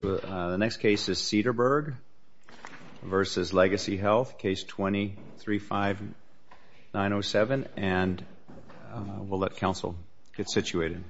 The next case is Cederberg v. Legacy Health, Case 20-35907, and we'll let counsel get situated.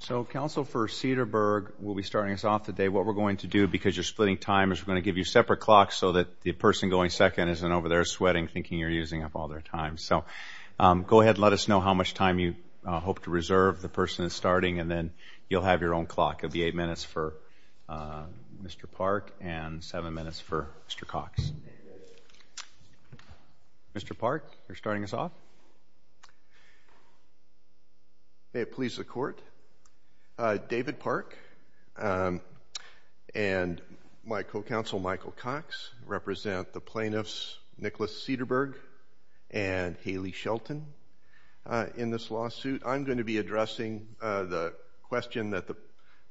So, Counsel for Cederberg will be starting us off today. What we're going to do, because you're splitting time, is we're going to give you separate clocks so that the person going second isn't over there sweating, thinking you're using up all their time. So, go ahead and let us know how much time you hope to reserve the person that's starting, and then you'll have your own clock. It'll be eight minutes for Mr. Park and seven minutes for Mr. Cox. Mr. Park, you're starting us off. May it please the Court, David Park and my co-counsel Michael Cox represent the plaintiffs Nicholas Cederberg and Haley Shelton in this lawsuit. I'm going to be addressing the question that the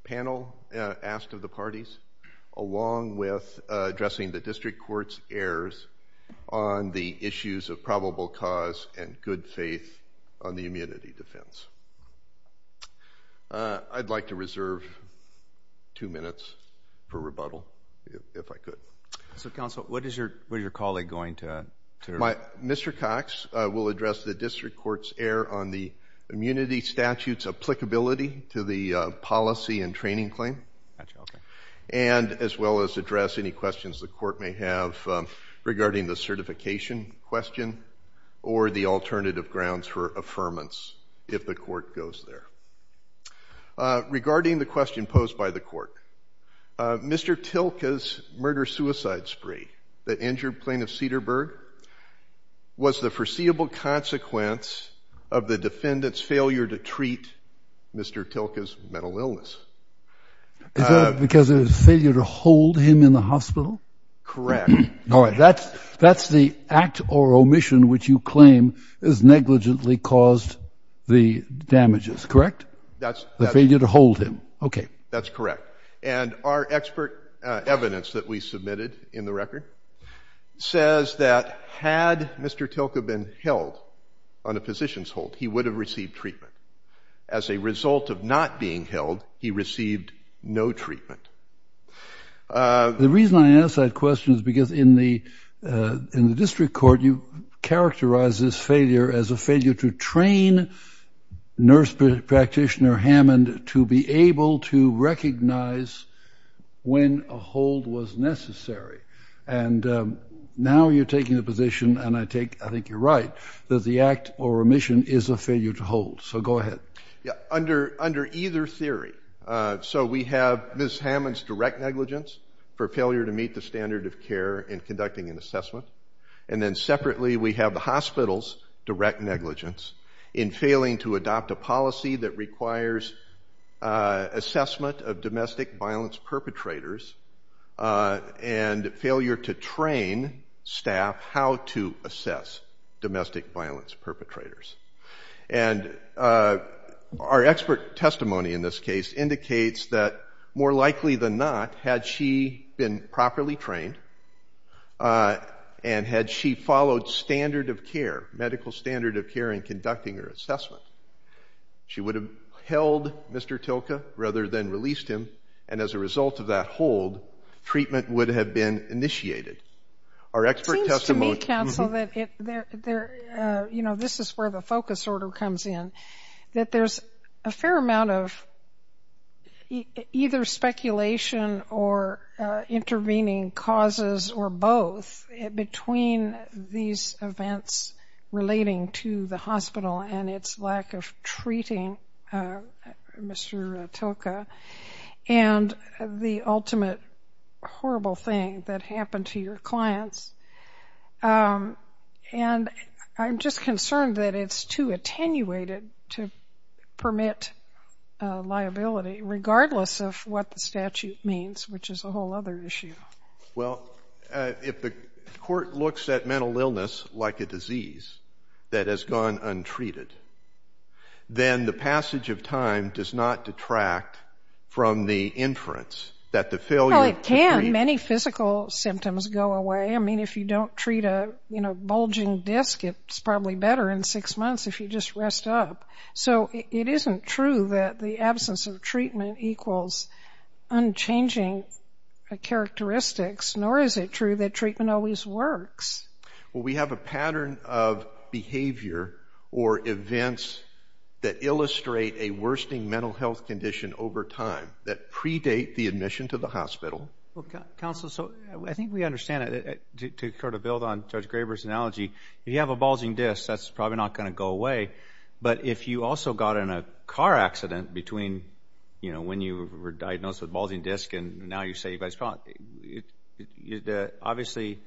panel asked of the parties, along with addressing the district court's errors on the issues of probable cause and good faith on the immunity defense. I'd like to reserve two minutes for rebuttal, if I could. So, Counsel, what is your colleague going to do? Mr. Cox will address the district court's error on the immunity statute's applicability to the policy and training claim, as well as address any questions the court may have regarding the certification question or the alternative grounds for affirmance, if the court goes there. Regarding the question posed by the court, Mr. Tilka's murder-suicide spree that injured Plaintiff Cederberg was the foreseeable consequence of the defendant's failure to treat Mr. Tilka's mental illness. Is that because of his failure to hold him in the hospital? Correct. All right, that's the act or omission which you claim has negligently caused the damages, correct? That's correct. And our expert evidence that we submitted in the record says that had Mr. Tilka been held on a physician's hold, he would have received treatment. As a result of not being held, he received no treatment. The reason I ask that question is because in the district court, you characterize this failure as a failure to train nurse practitioner Hammond to be able to recognize when a hold was necessary. And now you're taking the position, and I think you're right, that the act or omission is a failure to hold. So go ahead. Under either theory, so we have Ms. Hammond's direct negligence for failure to meet the standard of care in conducting an assessment, and then separately we have the hospital's direct negligence in failing to adopt a policy that requires assessment of domestic violence perpetrators and failure to train staff how to assess domestic violence perpetrators. And our expert testimony in this case indicates that more likely than not, had she been properly trained and had she followed standard of care, medical standard of care in conducting her assessment, she would have held Mr. Tilka rather than released him, and as a result of that hold, treatment would have been initiated. It seems to me, counsel, that this is where the focus sort of comes in, that there's a fair amount of either speculation or intervening causes or both between these events relating to the hospital and its lack of treating Mr. Tilka and the ultimate horrible thing that happened to your clients. And I'm just concerned that it's too attenuated to permit liability, regardless of what the statute means, which is a whole other issue. Well, if the court looks at mental illness like a disease that has gone untreated, then the passage of time does not detract from the inference that the failure to treat... Well, it can. Many physical symptoms go away. I mean, if you don't treat a, you know, bulging disc, it's probably better in six months if you just rest up. So it isn't true that the absence of treatment equals unchanging characteristics, nor is it true that treatment always works. Well, we have a pattern of behavior or events that illustrate a worsening mental health condition over time that predate the admission to the hospital. Well, counsel, so I think we understand it. To sort of build on Judge Graber's analogy, if you have a bulging disc, that's probably not going to go away. But if you also got in a car accident between, you know, when you were diagnosed with a bulging disc and now you say you've got a spot, obviously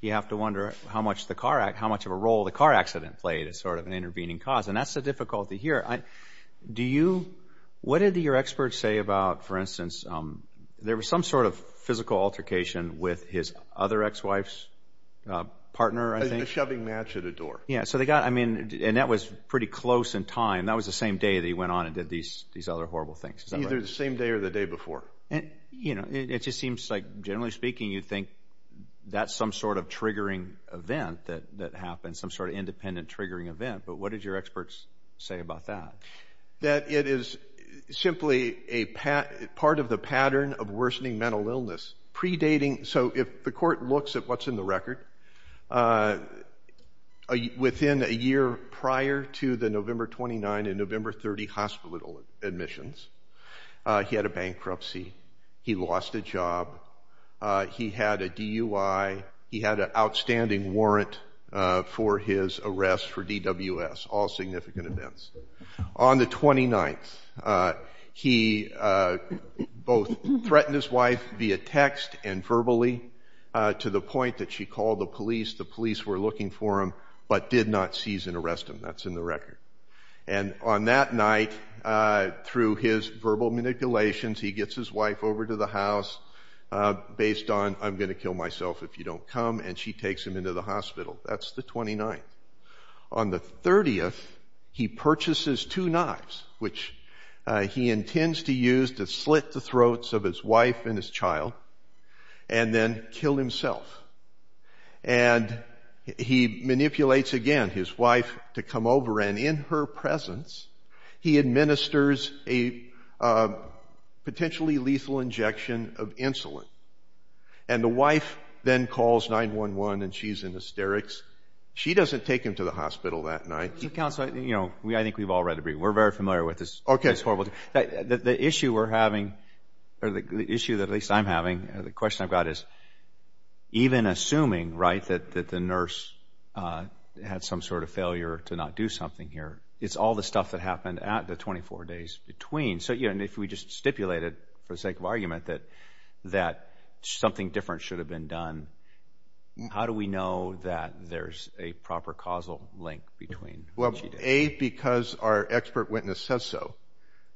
you have to wonder how much of a role the car accident played as sort of an intervening cause. And that's the difficulty here. What did your experts say about, for instance, there was some sort of physical altercation with his other ex-wife's partner, I think? A shoving match at a door. Yeah, and that was pretty close in time. That was the same day that he went on and did these other horrible things. Either the same day or the day before. It just seems like, generally speaking, you think that's some sort of triggering event that happened, some sort of independent triggering event. But what did your experts say about that? That it is simply part of the pattern of worsening mental illness predating. So if the court looks at what's in the record, within a year prior to the November 29 and November 30 hospital admissions, he had a bankruptcy. He lost a job. He had a DUI. He had an outstanding warrant for his arrest for DWS, all significant events. On the 29th, he both threatened his wife via text and verbally to the point that she called the police. The police were looking for him, but did not seize and arrest him. That's in the record. And on that night, through his verbal manipulations, he gets his wife over to the house based on, I'm going to kill myself if you don't come, and she takes him into the hospital. That's the 29th. On the 30th, he purchases two knives, which he intends to use to slit the throats of his wife and his child, and then kill himself. And he manipulates again his wife to come over, and in her presence, he administers a potentially lethal injection of insulin. And the wife then calls 911, and she's in hysterics. She doesn't take him to the hospital that night. Counsel, you know, I think we've all read the briefing. We're very familiar with this horrible thing. The issue we're having, or the issue that at least I'm having, the question I've got is, even assuming, right, that the nurse had some sort of failure to not do something here, it's all the stuff that happened at the 24 days between. So, you know, and if we just stipulate it for the sake of argument that something different should have been done, how do we know that there's a proper causal link between what she did? Well, A, because our expert witness says so.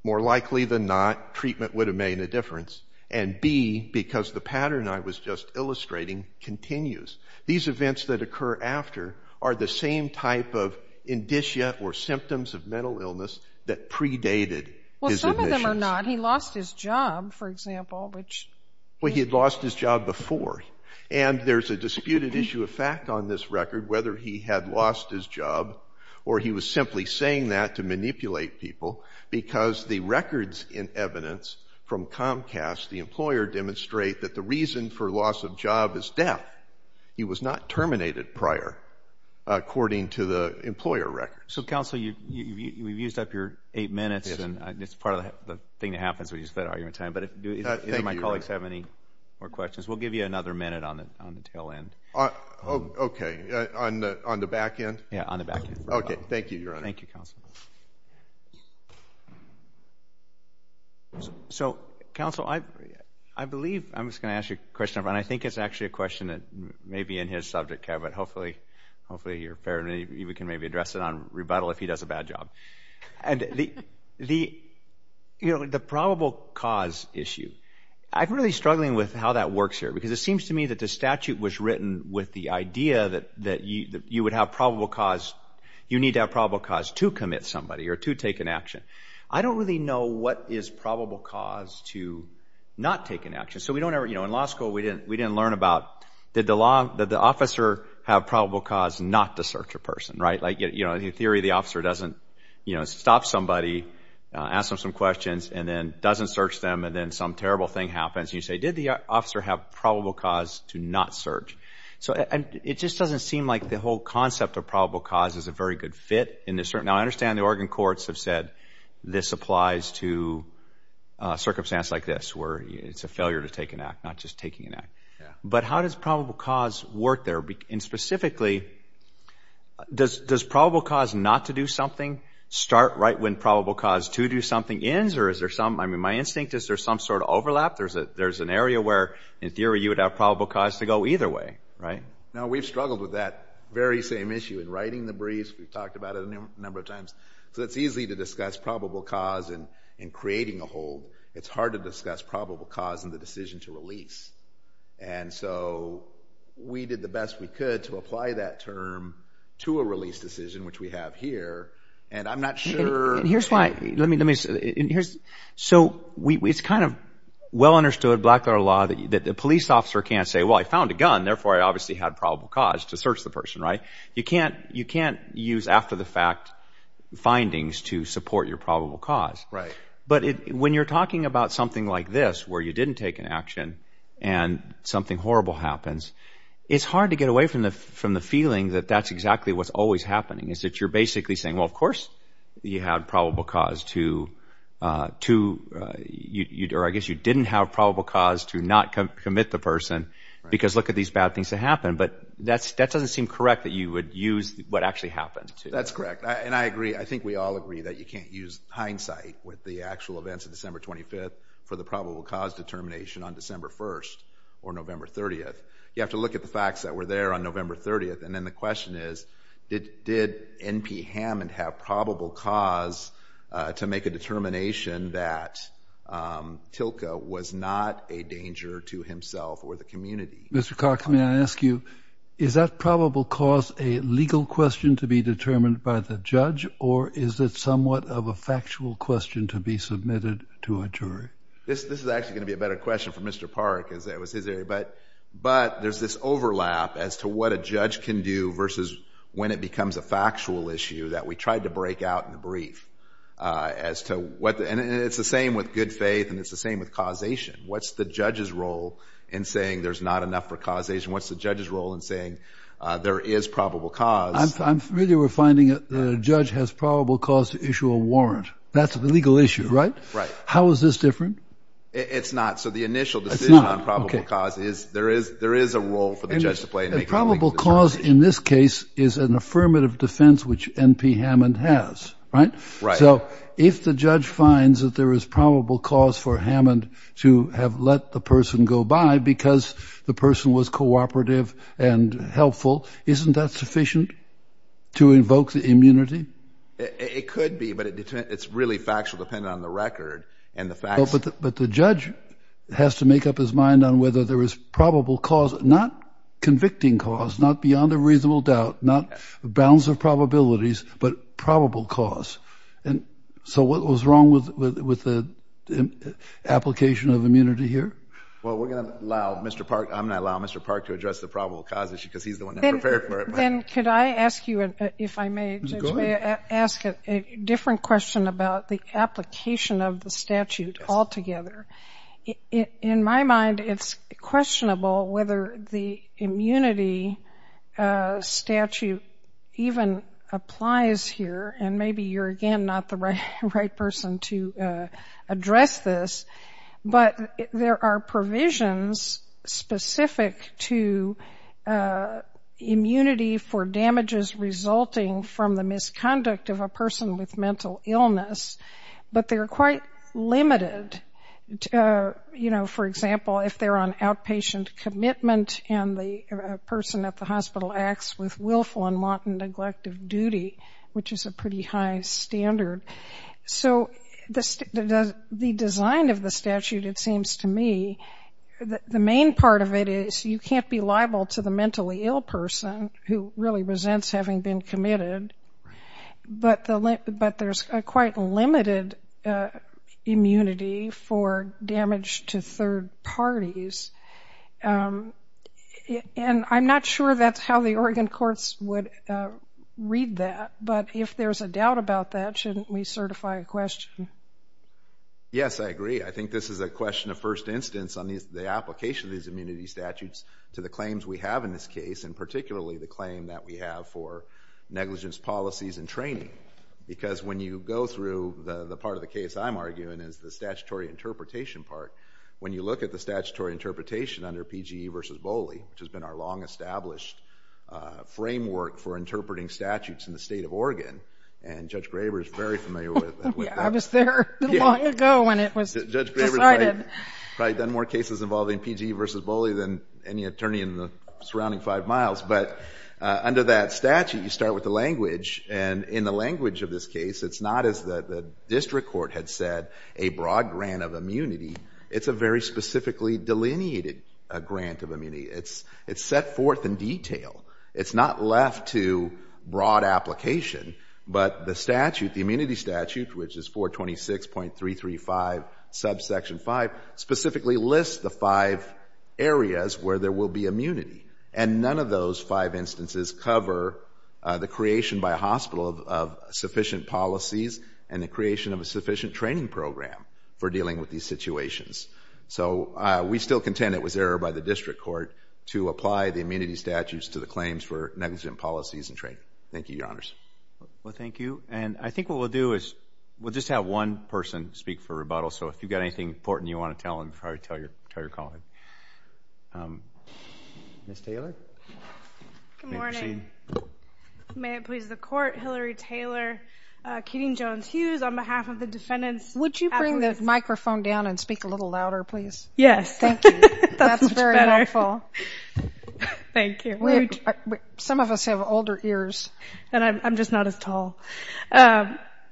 More likely than not, treatment would have made a difference. And B, because the pattern I was just illustrating continues. These events that occur after are the same type of indicia or symptoms of mental illness that predated his admissions. Well, some of them are not. He lost his job, for example. Well, he had lost his job before. And there's a disputed issue of fact on this record, whether he had lost his job or he was simply saying that to manipulate people, because the records in evidence from Comcast, the employer, demonstrate that the reason for loss of job is death. He was not terminated prior, according to the employer records. So, Counsel, we've used up your eight minutes, and it's part of the thing that happens when you spend argument time. But do either of my colleagues have any more questions? We'll give you another minute on the tail end. Okay. On the back end? Yeah, on the back end. Okay. Thank you, Your Honor. Thank you, Counsel. So, Counsel, I believe I'm just going to ask you a question, and I think it's actually a question that may be in his subject, but hopefully you're fair and we can maybe address it on rebuttal if he does a bad job. And the probable cause issue, I'm really struggling with how that works here, because it seems to me that the statute was written with the idea that you would have probable cause, you need to have probable cause to commit somebody or to take an action. I don't really know what is probable cause to not take an action. So we don't ever, you know, in law school we didn't learn about did the law, did the officer have probable cause not to search a person, right? Like, you know, in theory the officer doesn't, you know, stop somebody, ask them some questions, and then doesn't search them, and then some terrible thing happens, and you say, did the officer have probable cause to not search? So it just doesn't seem like the whole concept of probable cause is a very good fit. Now, I understand the Oregon courts have said this applies to a circumstance like this, where it's a failure to take an act, not just taking an act. But how does probable cause work there? And specifically, does probable cause not to do something start right when probable cause to do something ends, or is there some, I mean, my instinct is there's some sort of overlap. There's an area where, in theory, you would have probable cause to go either way, right? No, we've struggled with that very same issue in writing the briefs. We've talked about it a number of times. So it's easy to discuss probable cause in creating a hold. It's hard to discuss probable cause in the decision to release. And so we did the best we could to apply that term to a release decision, which we have here. And I'm not sure. And here's why. Let me say this. So it's kind of well understood, black-letter law, that the police officer can't say, well, I found a gun, therefore I obviously had probable cause to search the person, right? You can't use after-the-fact findings to support your probable cause. Right. But when you're talking about something like this where you didn't take an action and something horrible happens, it's hard to get away from the feeling that that's exactly what's always happening, is that you're basically saying, well, of course you had probable cause to, or I guess you didn't have probable cause to not commit the person because look at these bad things that happened. But that doesn't seem correct that you would use what actually happened. That's correct. And I agree. I think we all agree that you can't use hindsight with the actual events of December 25th for the probable cause determination on December 1st or November 30th. You have to look at the facts that were there on November 30th. And then the question is, did N.P. Hammond have probable cause to make a determination that Tilka was not a danger to himself or the community? Mr. Cox, may I ask you, is that probable cause a legal question to be determined by the judge or is it somewhat of a factual question to be submitted to a jury? This is actually going to be a better question for Mr. Park because that was his area. But there's this overlap as to what a judge can do versus when it becomes a factual issue that we tried to break out and brief. And it's the same with good faith and it's the same with causation. What's the judge's role in saying there's not enough for causation? What's the judge's role in saying there is probable cause? I'm familiar with finding that the judge has probable cause to issue a warrant. That's a legal issue, right? Right. How is this different? It's not. So the initial decision on probable cause is there is a role for the judge to play in making a legal decision. And probable cause in this case is an affirmative defense, which N.P. Hammond has, right? Right. So if the judge finds that there is probable cause for Hammond to have let the person go by because the person was cooperative and helpful, isn't that sufficient to invoke the immunity? It could be, but it's really factual, dependent on the record and the facts. But the judge has to make up his mind on whether there is probable cause, not convicting cause, not beyond a reasonable doubt, not bounds of probabilities, but probable cause. So what was wrong with the application of immunity here? Well, we're going to allow Mr. Park, I'm going to allow Mr. Park to address the probable cause issue because he's the one that prepared for it. Then could I ask you, if I may, Judge, may I ask a different question about the application of the statute altogether? In my mind, it's questionable whether the immunity statute even applies here, and maybe you're, again, not the right person to address this, but there are provisions specific to immunity for damages resulting from the misconduct of a person with mental illness, but they're quite limited. You know, for example, if they're on outpatient commitment and the person at the hospital acts with willful and wanton neglect of duty, which is a pretty high standard. So the design of the statute, it seems to me, the main part of it is you can't be liable to the mentally ill person who really resents having been committed, but there's a quite limited immunity for damage to third parties. And I'm not sure that's how the Oregon courts would read that, but if there's a doubt about that, shouldn't we certify a question? Yes, I agree. I think this is a question of first instance on the application of these immunity statutes to the claims we have in this case, and particularly the claim that we have for negligence policies and training, because when you go through the part of the case I'm arguing is the statutory interpretation part, when you look at the statutory interpretation under PGE versus BOLI, which has been our long-established framework for interpreting statutes in the state of Oregon, and Judge Graber's very familiar with that. I was there long ago when it was decided. Judge Graber's probably done more cases involving PGE versus BOLI than any attorney in the surrounding five miles, but under that statute you start with the language, and in the language of this case it's not, as the district court had said, a broad grant of immunity. It's a very specifically delineated grant of immunity. It's set forth in detail. It's not left to broad application, but the statute, the immunity statute, which is 426.335 subsection 5, specifically lists the five areas where there will be immunity, and none of those five instances cover the creation by a hospital of sufficient policies and the creation of a sufficient training program for dealing with these situations. So we still contend it was error by the district court to apply the immunity statutes to the claims for negligent policies and training. Thank you, Your Honors. Well, thank you. And I think what we'll do is we'll just have one person speak for rebuttal, so if you've got anything important you want to tell them, probably tell your colleague. Ms. Taylor? Good morning. May it please the Court, Hillary Taylor, Keating-Jones-Hughes, on behalf of the defendants. Would you bring the microphone down and speak a little louder, please? Yes, thank you. That's very helpful. Thank you. Some of us have older ears, and I'm just not as tall.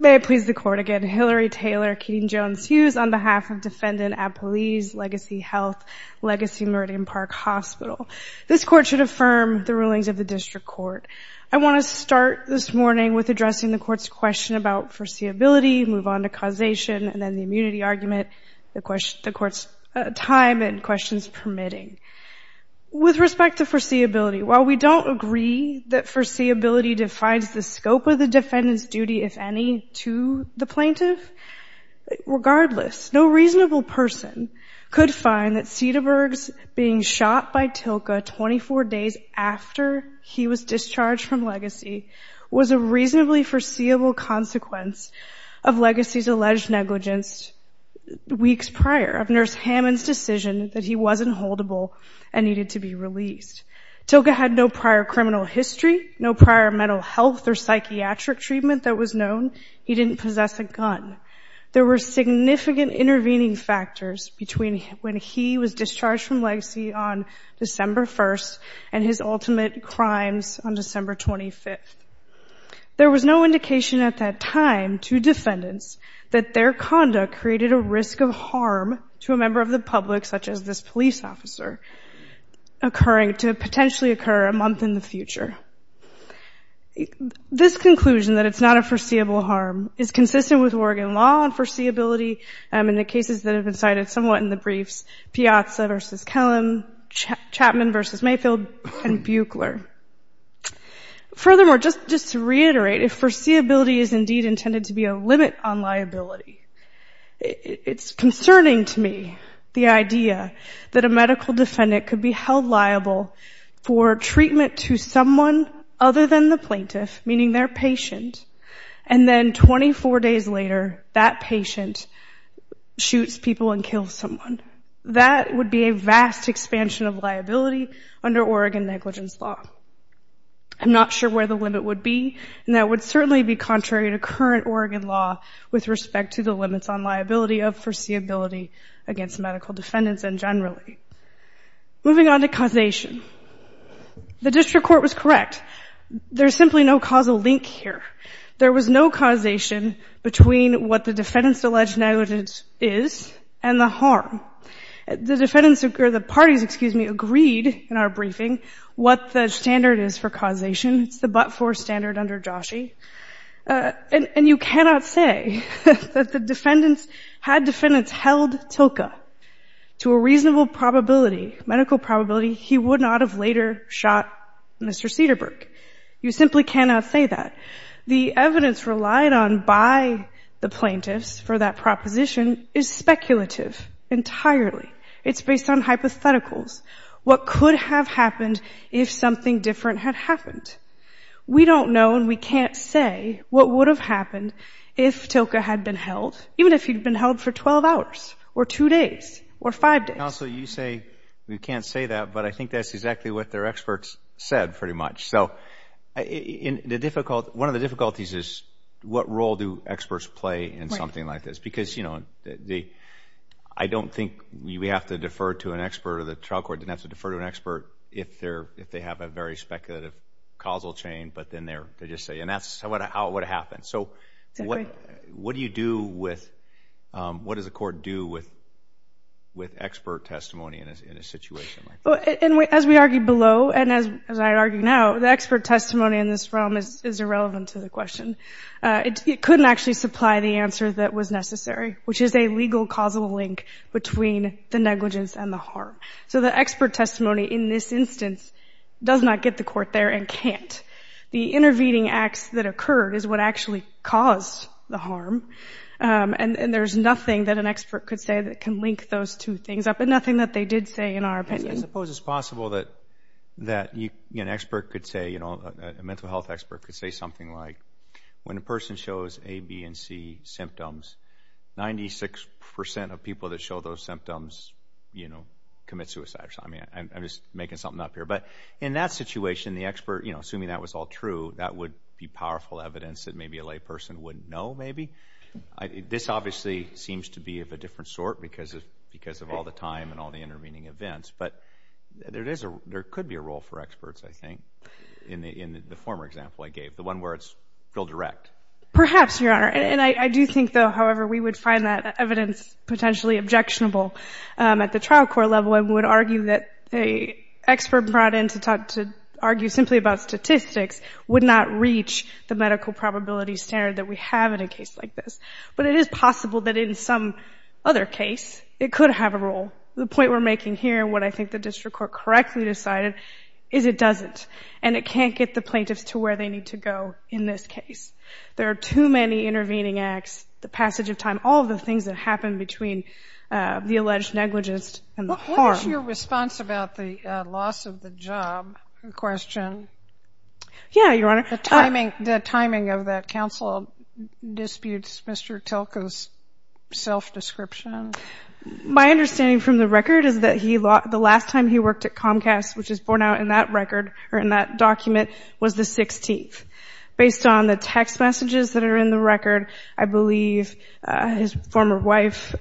May it please the Court again, Hillary Taylor, Keating-Jones-Hughes, on behalf of Defendant Appelese, Legacy Health, Legacy Meridian Park Hospital. This Court should affirm the rulings of the district court. I want to start this morning with addressing the Court's question about foreseeability, move on to causation, and then the immunity argument, the Court's time and questions permitting. With respect to foreseeability, while we don't agree that foreseeability defines the scope of the defendant's duty, if any, to the plaintiff, regardless, no reasonable person could find that Sederberg's being shot by Tilke 24 days after he was discharged from Legacy was a reasonably foreseeable consequence of Legacy's alleged negligence weeks prior, of Nurse Hammond's decision that he wasn't holdable and needed to be released. Tilke had no prior criminal history, no prior mental health or psychiatric treatment that was known. He didn't possess a gun. There were significant intervening factors between when he was discharged from Legacy on December 1st and his ultimate crimes on December 25th. There was no indication at that time to defendants that their conduct created a risk of harm to a member of the public, such as this police officer, occurring to potentially occur a month in the future. This conclusion that it's not a foreseeable harm is consistent with Oregon law on foreseeability and the cases that have been cited somewhat in the briefs, Piazza v. Kellam, Chapman v. Mayfield, and Buechler. Furthermore, just to reiterate, if foreseeability is indeed intended to be a limit on liability, it's concerning to me the idea that a medical defendant could be held liable for treatment to someone other than the plaintiff, meaning their patient, and then 24 days later that patient shoots people and kills someone. That would be a vast expansion of liability under Oregon negligence law. I'm not sure where the limit would be, and that would certainly be contrary to current Oregon law with respect to the limits on liability of foreseeability against medical defendants in general. Moving on to causation. The district court was correct. There's simply no causal link here. There was no causation between what the defendant's alleged negligence is and the harm. The parties agreed in our briefing what the standard is for causation. It's the but-for standard under Joshi. And you cannot say that the defendants had defendants held Tilka to a reasonable probability, medical probability, he would not have later shot Mr. Cederberg. You simply cannot say that. The evidence relied on by the plaintiffs for that proposition is speculative entirely. It's based on hypotheticals. What could have happened if something different had happened? We don't know and we can't say what would have happened if Tilka had been held, even if he'd been held for 12 hours or 2 days or 5 days. Counsel, you say we can't say that, but I think that's exactly what their experts said pretty much. So one of the difficulties is what role do experts play in something like this? Because, you know, I don't think we have to defer to an expert or the trial court didn't have to defer to an expert if they have a very speculative causal chain, but then they just say, and that's what happened. So what do you do with, what does a court do with expert testimony in a situation like this? As we argued below and as I argue now, the expert testimony in this realm is irrelevant to the question. It couldn't actually supply the answer that was necessary, which is a legal causal link between the negligence and the harm. So the expert testimony in this instance does not get the court there and can't. The intervening acts that occurred is what actually caused the harm, and there's nothing that an expert could say that can link those two things up, and nothing that they did say in our opinion. I suppose it's possible that an expert could say, you know, a mental health expert could say something like when a person shows A, B, and C symptoms, 96% of people that show those symptoms, you know, commit suicide or something. I mean, I'm just making something up here. But in that situation, the expert, you know, assuming that was all true, that would be powerful evidence that maybe a lay person wouldn't know maybe. This obviously seems to be of a different sort because of all the time and all the intervening events, but there could be a role for experts, I think, in the former example I gave, the one where it's still direct. Perhaps, Your Honor, and I do think, though, however, we would find that evidence potentially objectionable at the trial court level and would argue that an expert brought in to argue simply about statistics would not reach the medical probability standard that we have in a case like this. But it is possible that in some other case it could have a role. The point we're making here and what I think the district court correctly decided is it doesn't, and it can't get the plaintiffs to where they need to go in this case. There are too many intervening acts, the passage of time, all the things that happen between the alleged negligence and the harm. What's your response about the loss of the job question? Yeah, Your Honor. The timing of that counsel disputes Mr. Tilke's self-description? My understanding from the record is that the last time he worked at Comcast, which is borne out in that record or in that document, was the 16th. Based on the text messages that are in the record, I believe his former wife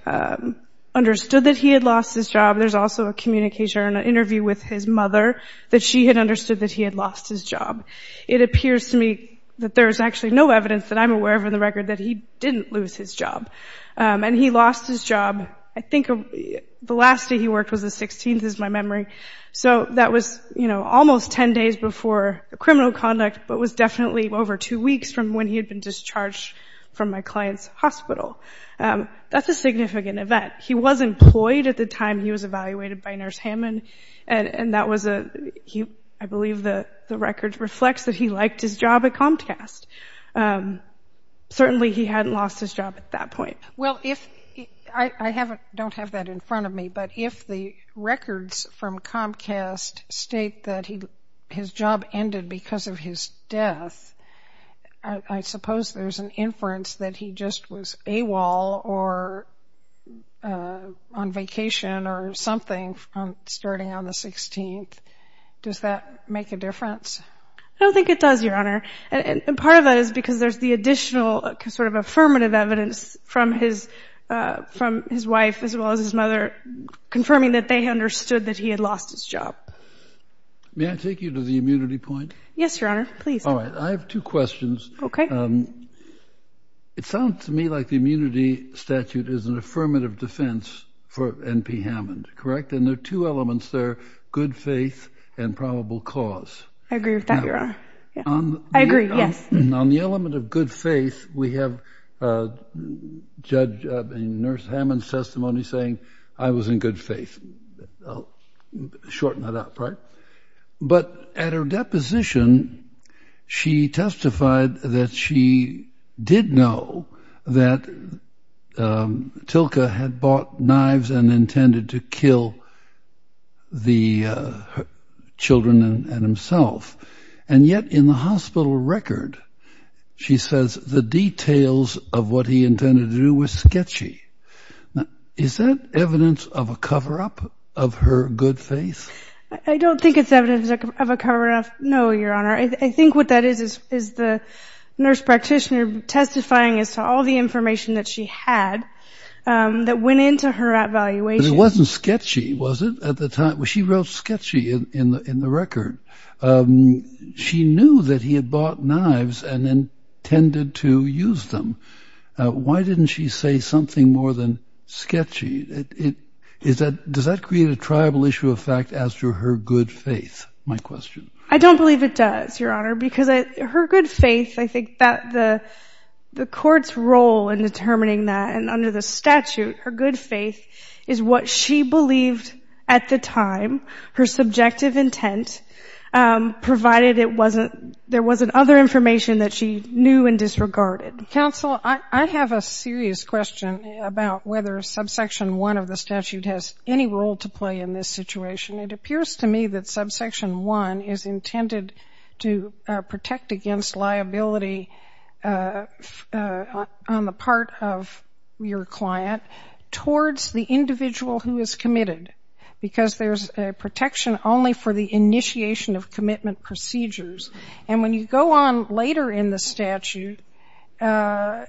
understood that he had lost his job. There's also a communication or an interview with his mother that she had understood that he had lost his job. It appears to me that there is actually no evidence that I'm aware of in the record that he didn't lose his job. And he lost his job. I think the last day he worked was the 16th is my memory. So that was, you know, almost 10 days before criminal conduct, but was definitely over two weeks from when he had been discharged from my client's hospital. That's a significant event. He was employed at the time he was evaluated by Nurse Hammond, and I believe the record reflects that he liked his job at Comcast. Certainly he hadn't lost his job at that point. Well, I don't have that in front of me, but if the records from Comcast state that his job ended because of his death, I suppose there's an inference that he just was AWOL or on vacation or something starting on the 16th. Does that make a difference? I don't think it does, Your Honor. And part of that is because there's the additional sort of affirmative evidence from his wife, as well as his mother, confirming that they understood that he had lost his job. May I take you to the immunity point? Yes, Your Honor, please. All right, I have two questions. Okay. It sounds to me like the immunity statute is an affirmative defense for N.P. Hammond, correct? And there are two elements there, good faith and probable cause. I agree with that, Your Honor. I agree, yes. On the element of good faith, we have a nurse Hammond's testimony saying, I was in good faith. I'll shorten that up, right? But at her deposition, she testified that she did know that Tilke had bought knives and intended to kill the children and himself. And yet in the hospital record, she says the details of what he intended to do were sketchy. Is that evidence of a cover-up of her good faith? I don't think it's evidence of a cover-up, no, Your Honor. I think what that is is the nurse practitioner testifying as to all the information that she had that went into her evaluation. But it wasn't sketchy, was it, at the time? She wrote sketchy in the record. She knew that he had bought knives and intended to use them. Why didn't she say something more than sketchy? Does that create a tribal issue of fact as to her good faith, my question? I don't believe it does, Your Honor, because her good faith, I think the court's role in determining that and under the statute, her good faith is what she believed at the time, her subjective intent, provided there wasn't other information that she knew and disregarded. Counsel, I have a serious question about whether subsection 1 of the statute has any role to play in this situation. It appears to me that subsection 1 is intended to protect against liability on the part of your client towards the individual who is committed, because there's a protection only for the initiation of commitment procedures. And when you go on later in the statute, there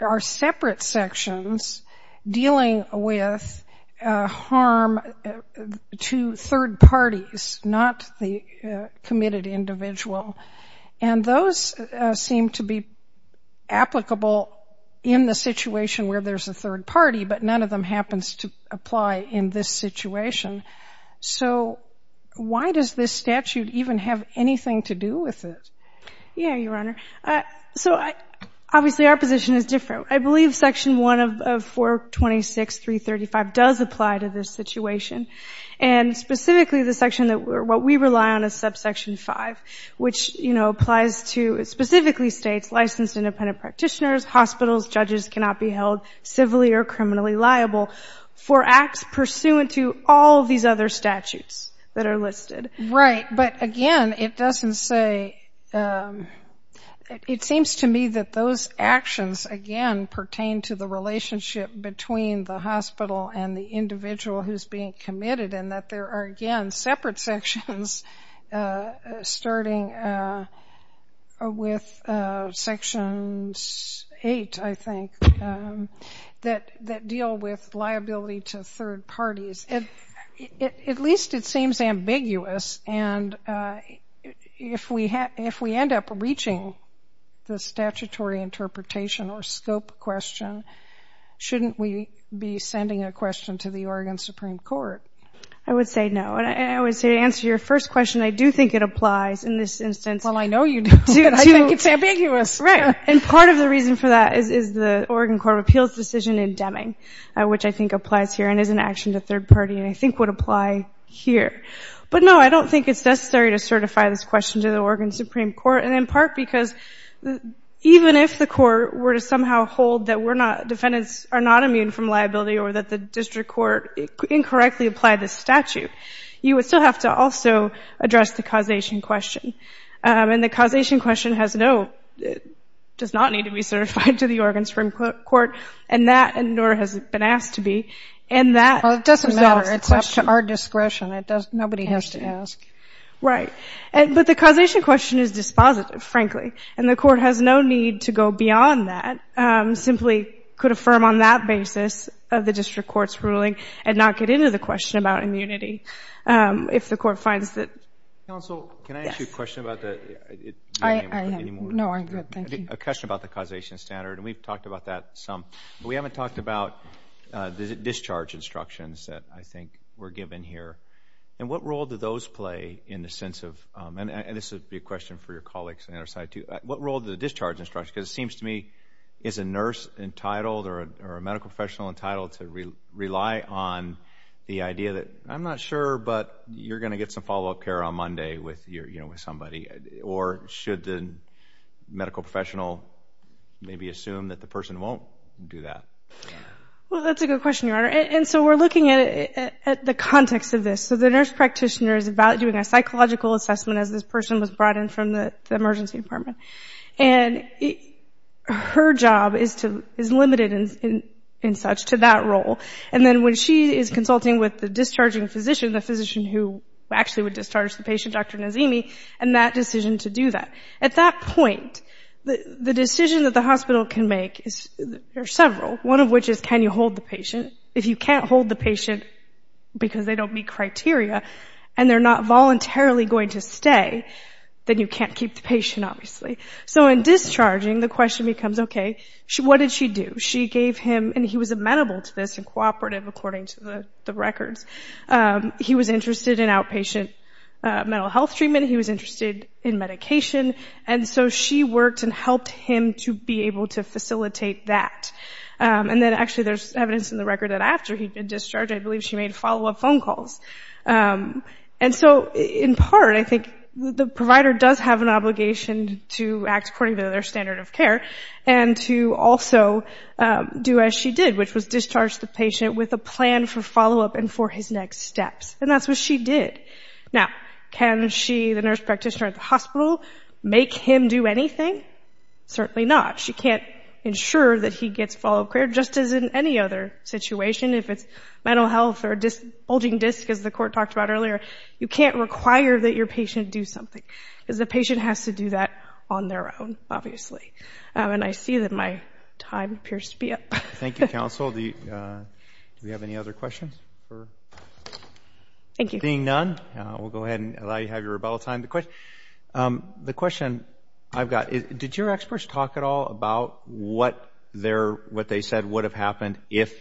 are separate sections dealing with harm to third parties, not the committed individual. And those seem to be applicable in the situation where there's a third party, but none of them happens to apply in this situation. So why does this statute even have anything to do with it? Yeah, Your Honor. So obviously our position is different. I believe section 1 of 426.335 does apply to this situation, and specifically the section that what we rely on is subsection 5, which, you know, applies to, specifically states, licensed independent practitioners, hospitals, judges cannot be held civilly or criminally liable for acts pursuant to all of these other statutes that are listed. Right. But, again, it doesn't say — it seems to me that those actions, again, pertain to the relationship between the hospital and the individual who's being committed, and that there are, again, separate sections starting with section 8, I think, that deal with liability to third parties. At least it seems ambiguous, and if we end up reaching the statutory interpretation or scope question, shouldn't we be sending a question to the Oregon Supreme Court? I would say no. And I would say to answer your first question, I do think it applies in this instance. Well, I know you do. I think it's ambiguous. Right. And part of the reason for that is the Oregon Court of Appeals decision in Deming, which I think applies here and is an action to third party and I think would apply here. But, no, I don't think it's necessary to certify this question to the Oregon Supreme Court, and in part because even if the court were to somehow hold that defendants are not immune from liability or that the district court incorrectly applied this statute, you would still have to also address the causation question. And the causation question does not need to be certified to the Oregon Supreme Court, and nor has it been asked to be. Well, it doesn't matter. It's up to our discretion. Nobody has to ask. Right. But the causation question is dispositive, frankly, and the court has no need to go beyond that, simply could affirm on that basis of the district court's ruling and not get into the question about immunity if the court finds that. Counsel, can I ask you a question about that? No, I'm good. Thank you. A question about the causation standard, and we've talked about that some, but we haven't talked about the discharge instructions that I think were given here. And what role do those play in the sense of, and this would be a question for your colleagues, what role do the discharge instructions, because it seems to me, is a nurse entitled or a medical professional entitled to rely on the idea that, I'm not sure, but you're going to get some follow-up care on Monday with somebody, or should the medical professional maybe assume that the person won't do that? Well, that's a good question, Your Honor. And so we're looking at the context of this. So the nurse practitioner is doing a psychological assessment as this person was brought in from the emergency department, and her job is limited in such to that role. And then when she is consulting with the discharging physician, the physician who actually would discharge the patient, Dr. Nazemi, and that decision to do that. At that point, the decision that the hospital can make, there are several, one of which is can you hold the patient. If you can't hold the patient because they don't meet criteria and they're not voluntarily going to stay, then you can't keep the patient, obviously. So in discharging, the question becomes, okay, what did she do? She gave him, and he was amenable to this and cooperative according to the records. He was interested in outpatient mental health treatment. He was interested in medication. And so she worked and helped him to be able to facilitate that. And then actually there's evidence in the record that after he had been discharged, I believe she made follow-up phone calls. And so in part, I think the provider does have an obligation to act according to their standard of care and to also do as she did, which was discharge the patient with a plan for follow-up and for his next steps. And that's what she did. Now, can she, the nurse practitioner at the hospital, make him do anything? Certainly not. She can't ensure that he gets follow-up care, just as in any other situation. If it's mental health or bulging disc, as the court talked about earlier, you can't require that your patient do something because the patient has to do that on their own, obviously. And I see that my time appears to be up. Thank you, counsel. Do we have any other questions? Thank you. Seeing none, we'll go ahead and allow you to have your rebuttal time. The question I've got, did your experts talk at all about what they said would have happened if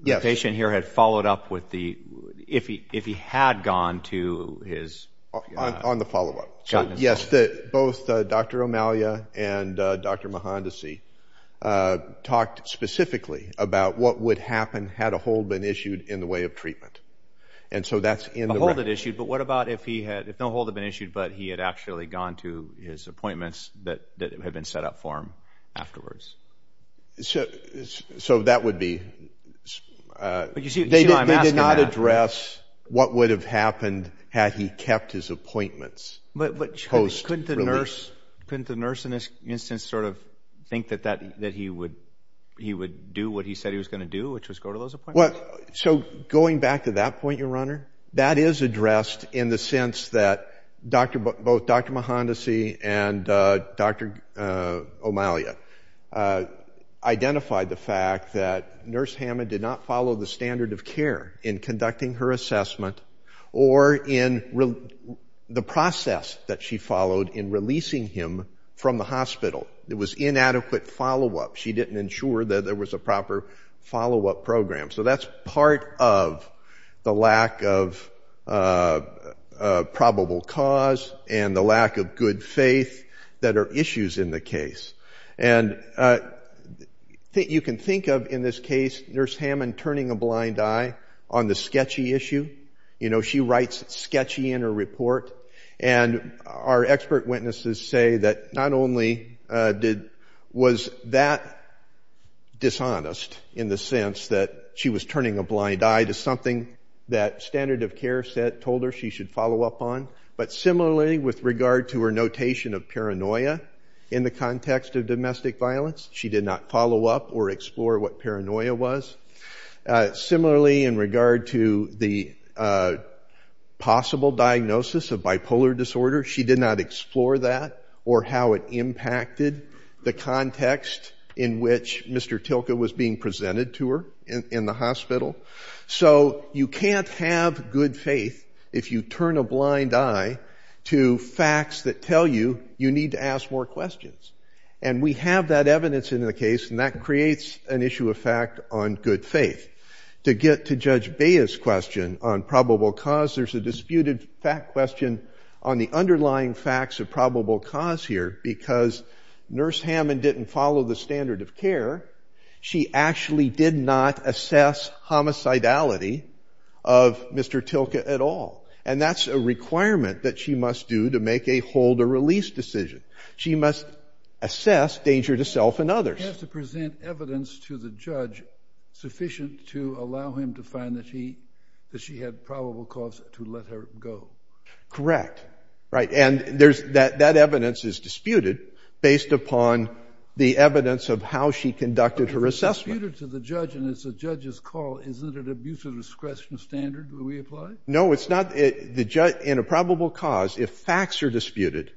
the patient here had followed up with the, if he had gone to his. On the follow-up. Yes, both Dr. O'Malia and Dr. Mohandasi talked specifically about what would happen had a hold been issued in the way of treatment. A hold had been issued, but what about if he had, if no hold had been issued but he had actually gone to his appointments that had been set up for him afterwards? So that would be. They did not address what would have happened had he kept his appointments. But couldn't the nurse in this instance sort of think that he would do what he said he was going to do, which was go to those appointments? So going back to that point, Your Honor, that is addressed in the sense that both Dr. Mohandasi and Dr. O'Malia identified the fact that Nurse Hammond did not follow the standard of care in conducting her assessment or in the process that she followed in releasing him from the hospital. It was inadequate follow-up. She didn't ensure that there was a proper follow-up program. So that's part of the lack of probable cause and the lack of good faith that are issues in the case. And you can think of in this case Nurse Hammond turning a blind eye on the sketchy issue. You know, she writes sketchy in her report. And our expert witnesses say that not only was that dishonest in the sense that she was turning a blind eye to something that standard of care told her she should follow up on, but similarly with regard to her notation of paranoia in the context of domestic violence, she did not follow up or explore what paranoia was. Similarly, in regard to the possible diagnosis of bipolar disorder, she did not explore that or how it impacted the context in which Mr. Tilke was being presented to her in the hospital. So you can't have good faith if you turn a blind eye to facts that tell you you need to ask more questions. And we have that evidence in the case, and that creates an issue of fact on good faith. To get to Judge Baya's question on probable cause, there's a disputed fact question on the underlying facts of probable cause here because Nurse Hammond didn't follow the standard of care. She actually did not assess homicidality of Mr. Tilke at all. And that's a requirement that she must do to make a hold or release decision. She must assess danger to self and others. She has to present evidence to the judge sufficient to allow him to find that she had probable cause to let her go. Correct. Right. And that evidence is disputed based upon the evidence of how she conducted her assessment. But if it's disputed to the judge and it's a judge's call, isn't it an abuse of discretion standard that we apply? No, it's not. In a probable cause, if facts are disputed,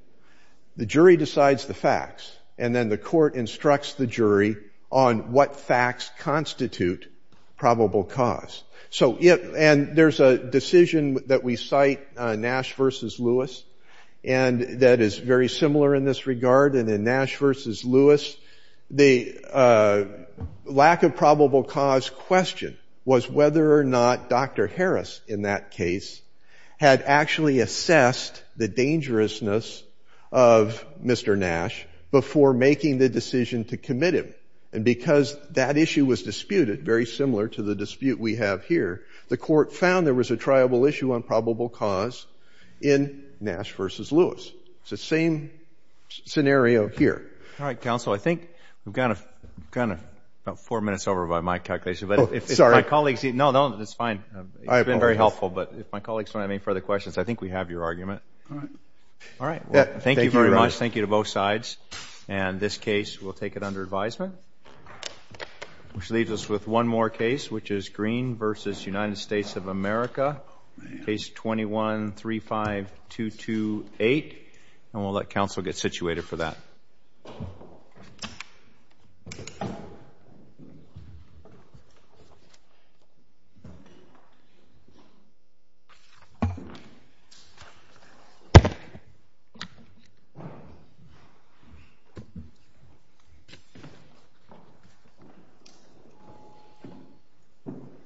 the jury decides the facts, and then the court instructs the jury on what facts constitute probable cause. And there's a decision that we cite, Nash v. Lewis, and that is very similar in this regard. And in Nash v. Lewis, the lack of probable cause question was whether or not Dr. Harris, in that case, had actually assessed the dangerousness of Mr. Nash before making the decision to commit him. And because that issue was disputed, very similar to the dispute we have here, the court found there was a triable issue on probable cause in Nash v. Lewis. It's the same scenario here. All right, counsel. I think we've gone about four minutes over by my calculation. Sorry. No, it's fine. It's been very helpful. But if my colleagues don't have any further questions, I think we have your argument. All right. Thank you very much. Thank you to both sides. And this case, we'll take it under advisement, which leaves us with one more case, which is Green v. United States of America, case 21-35228. And we'll let counsel get situated for that. Thank you.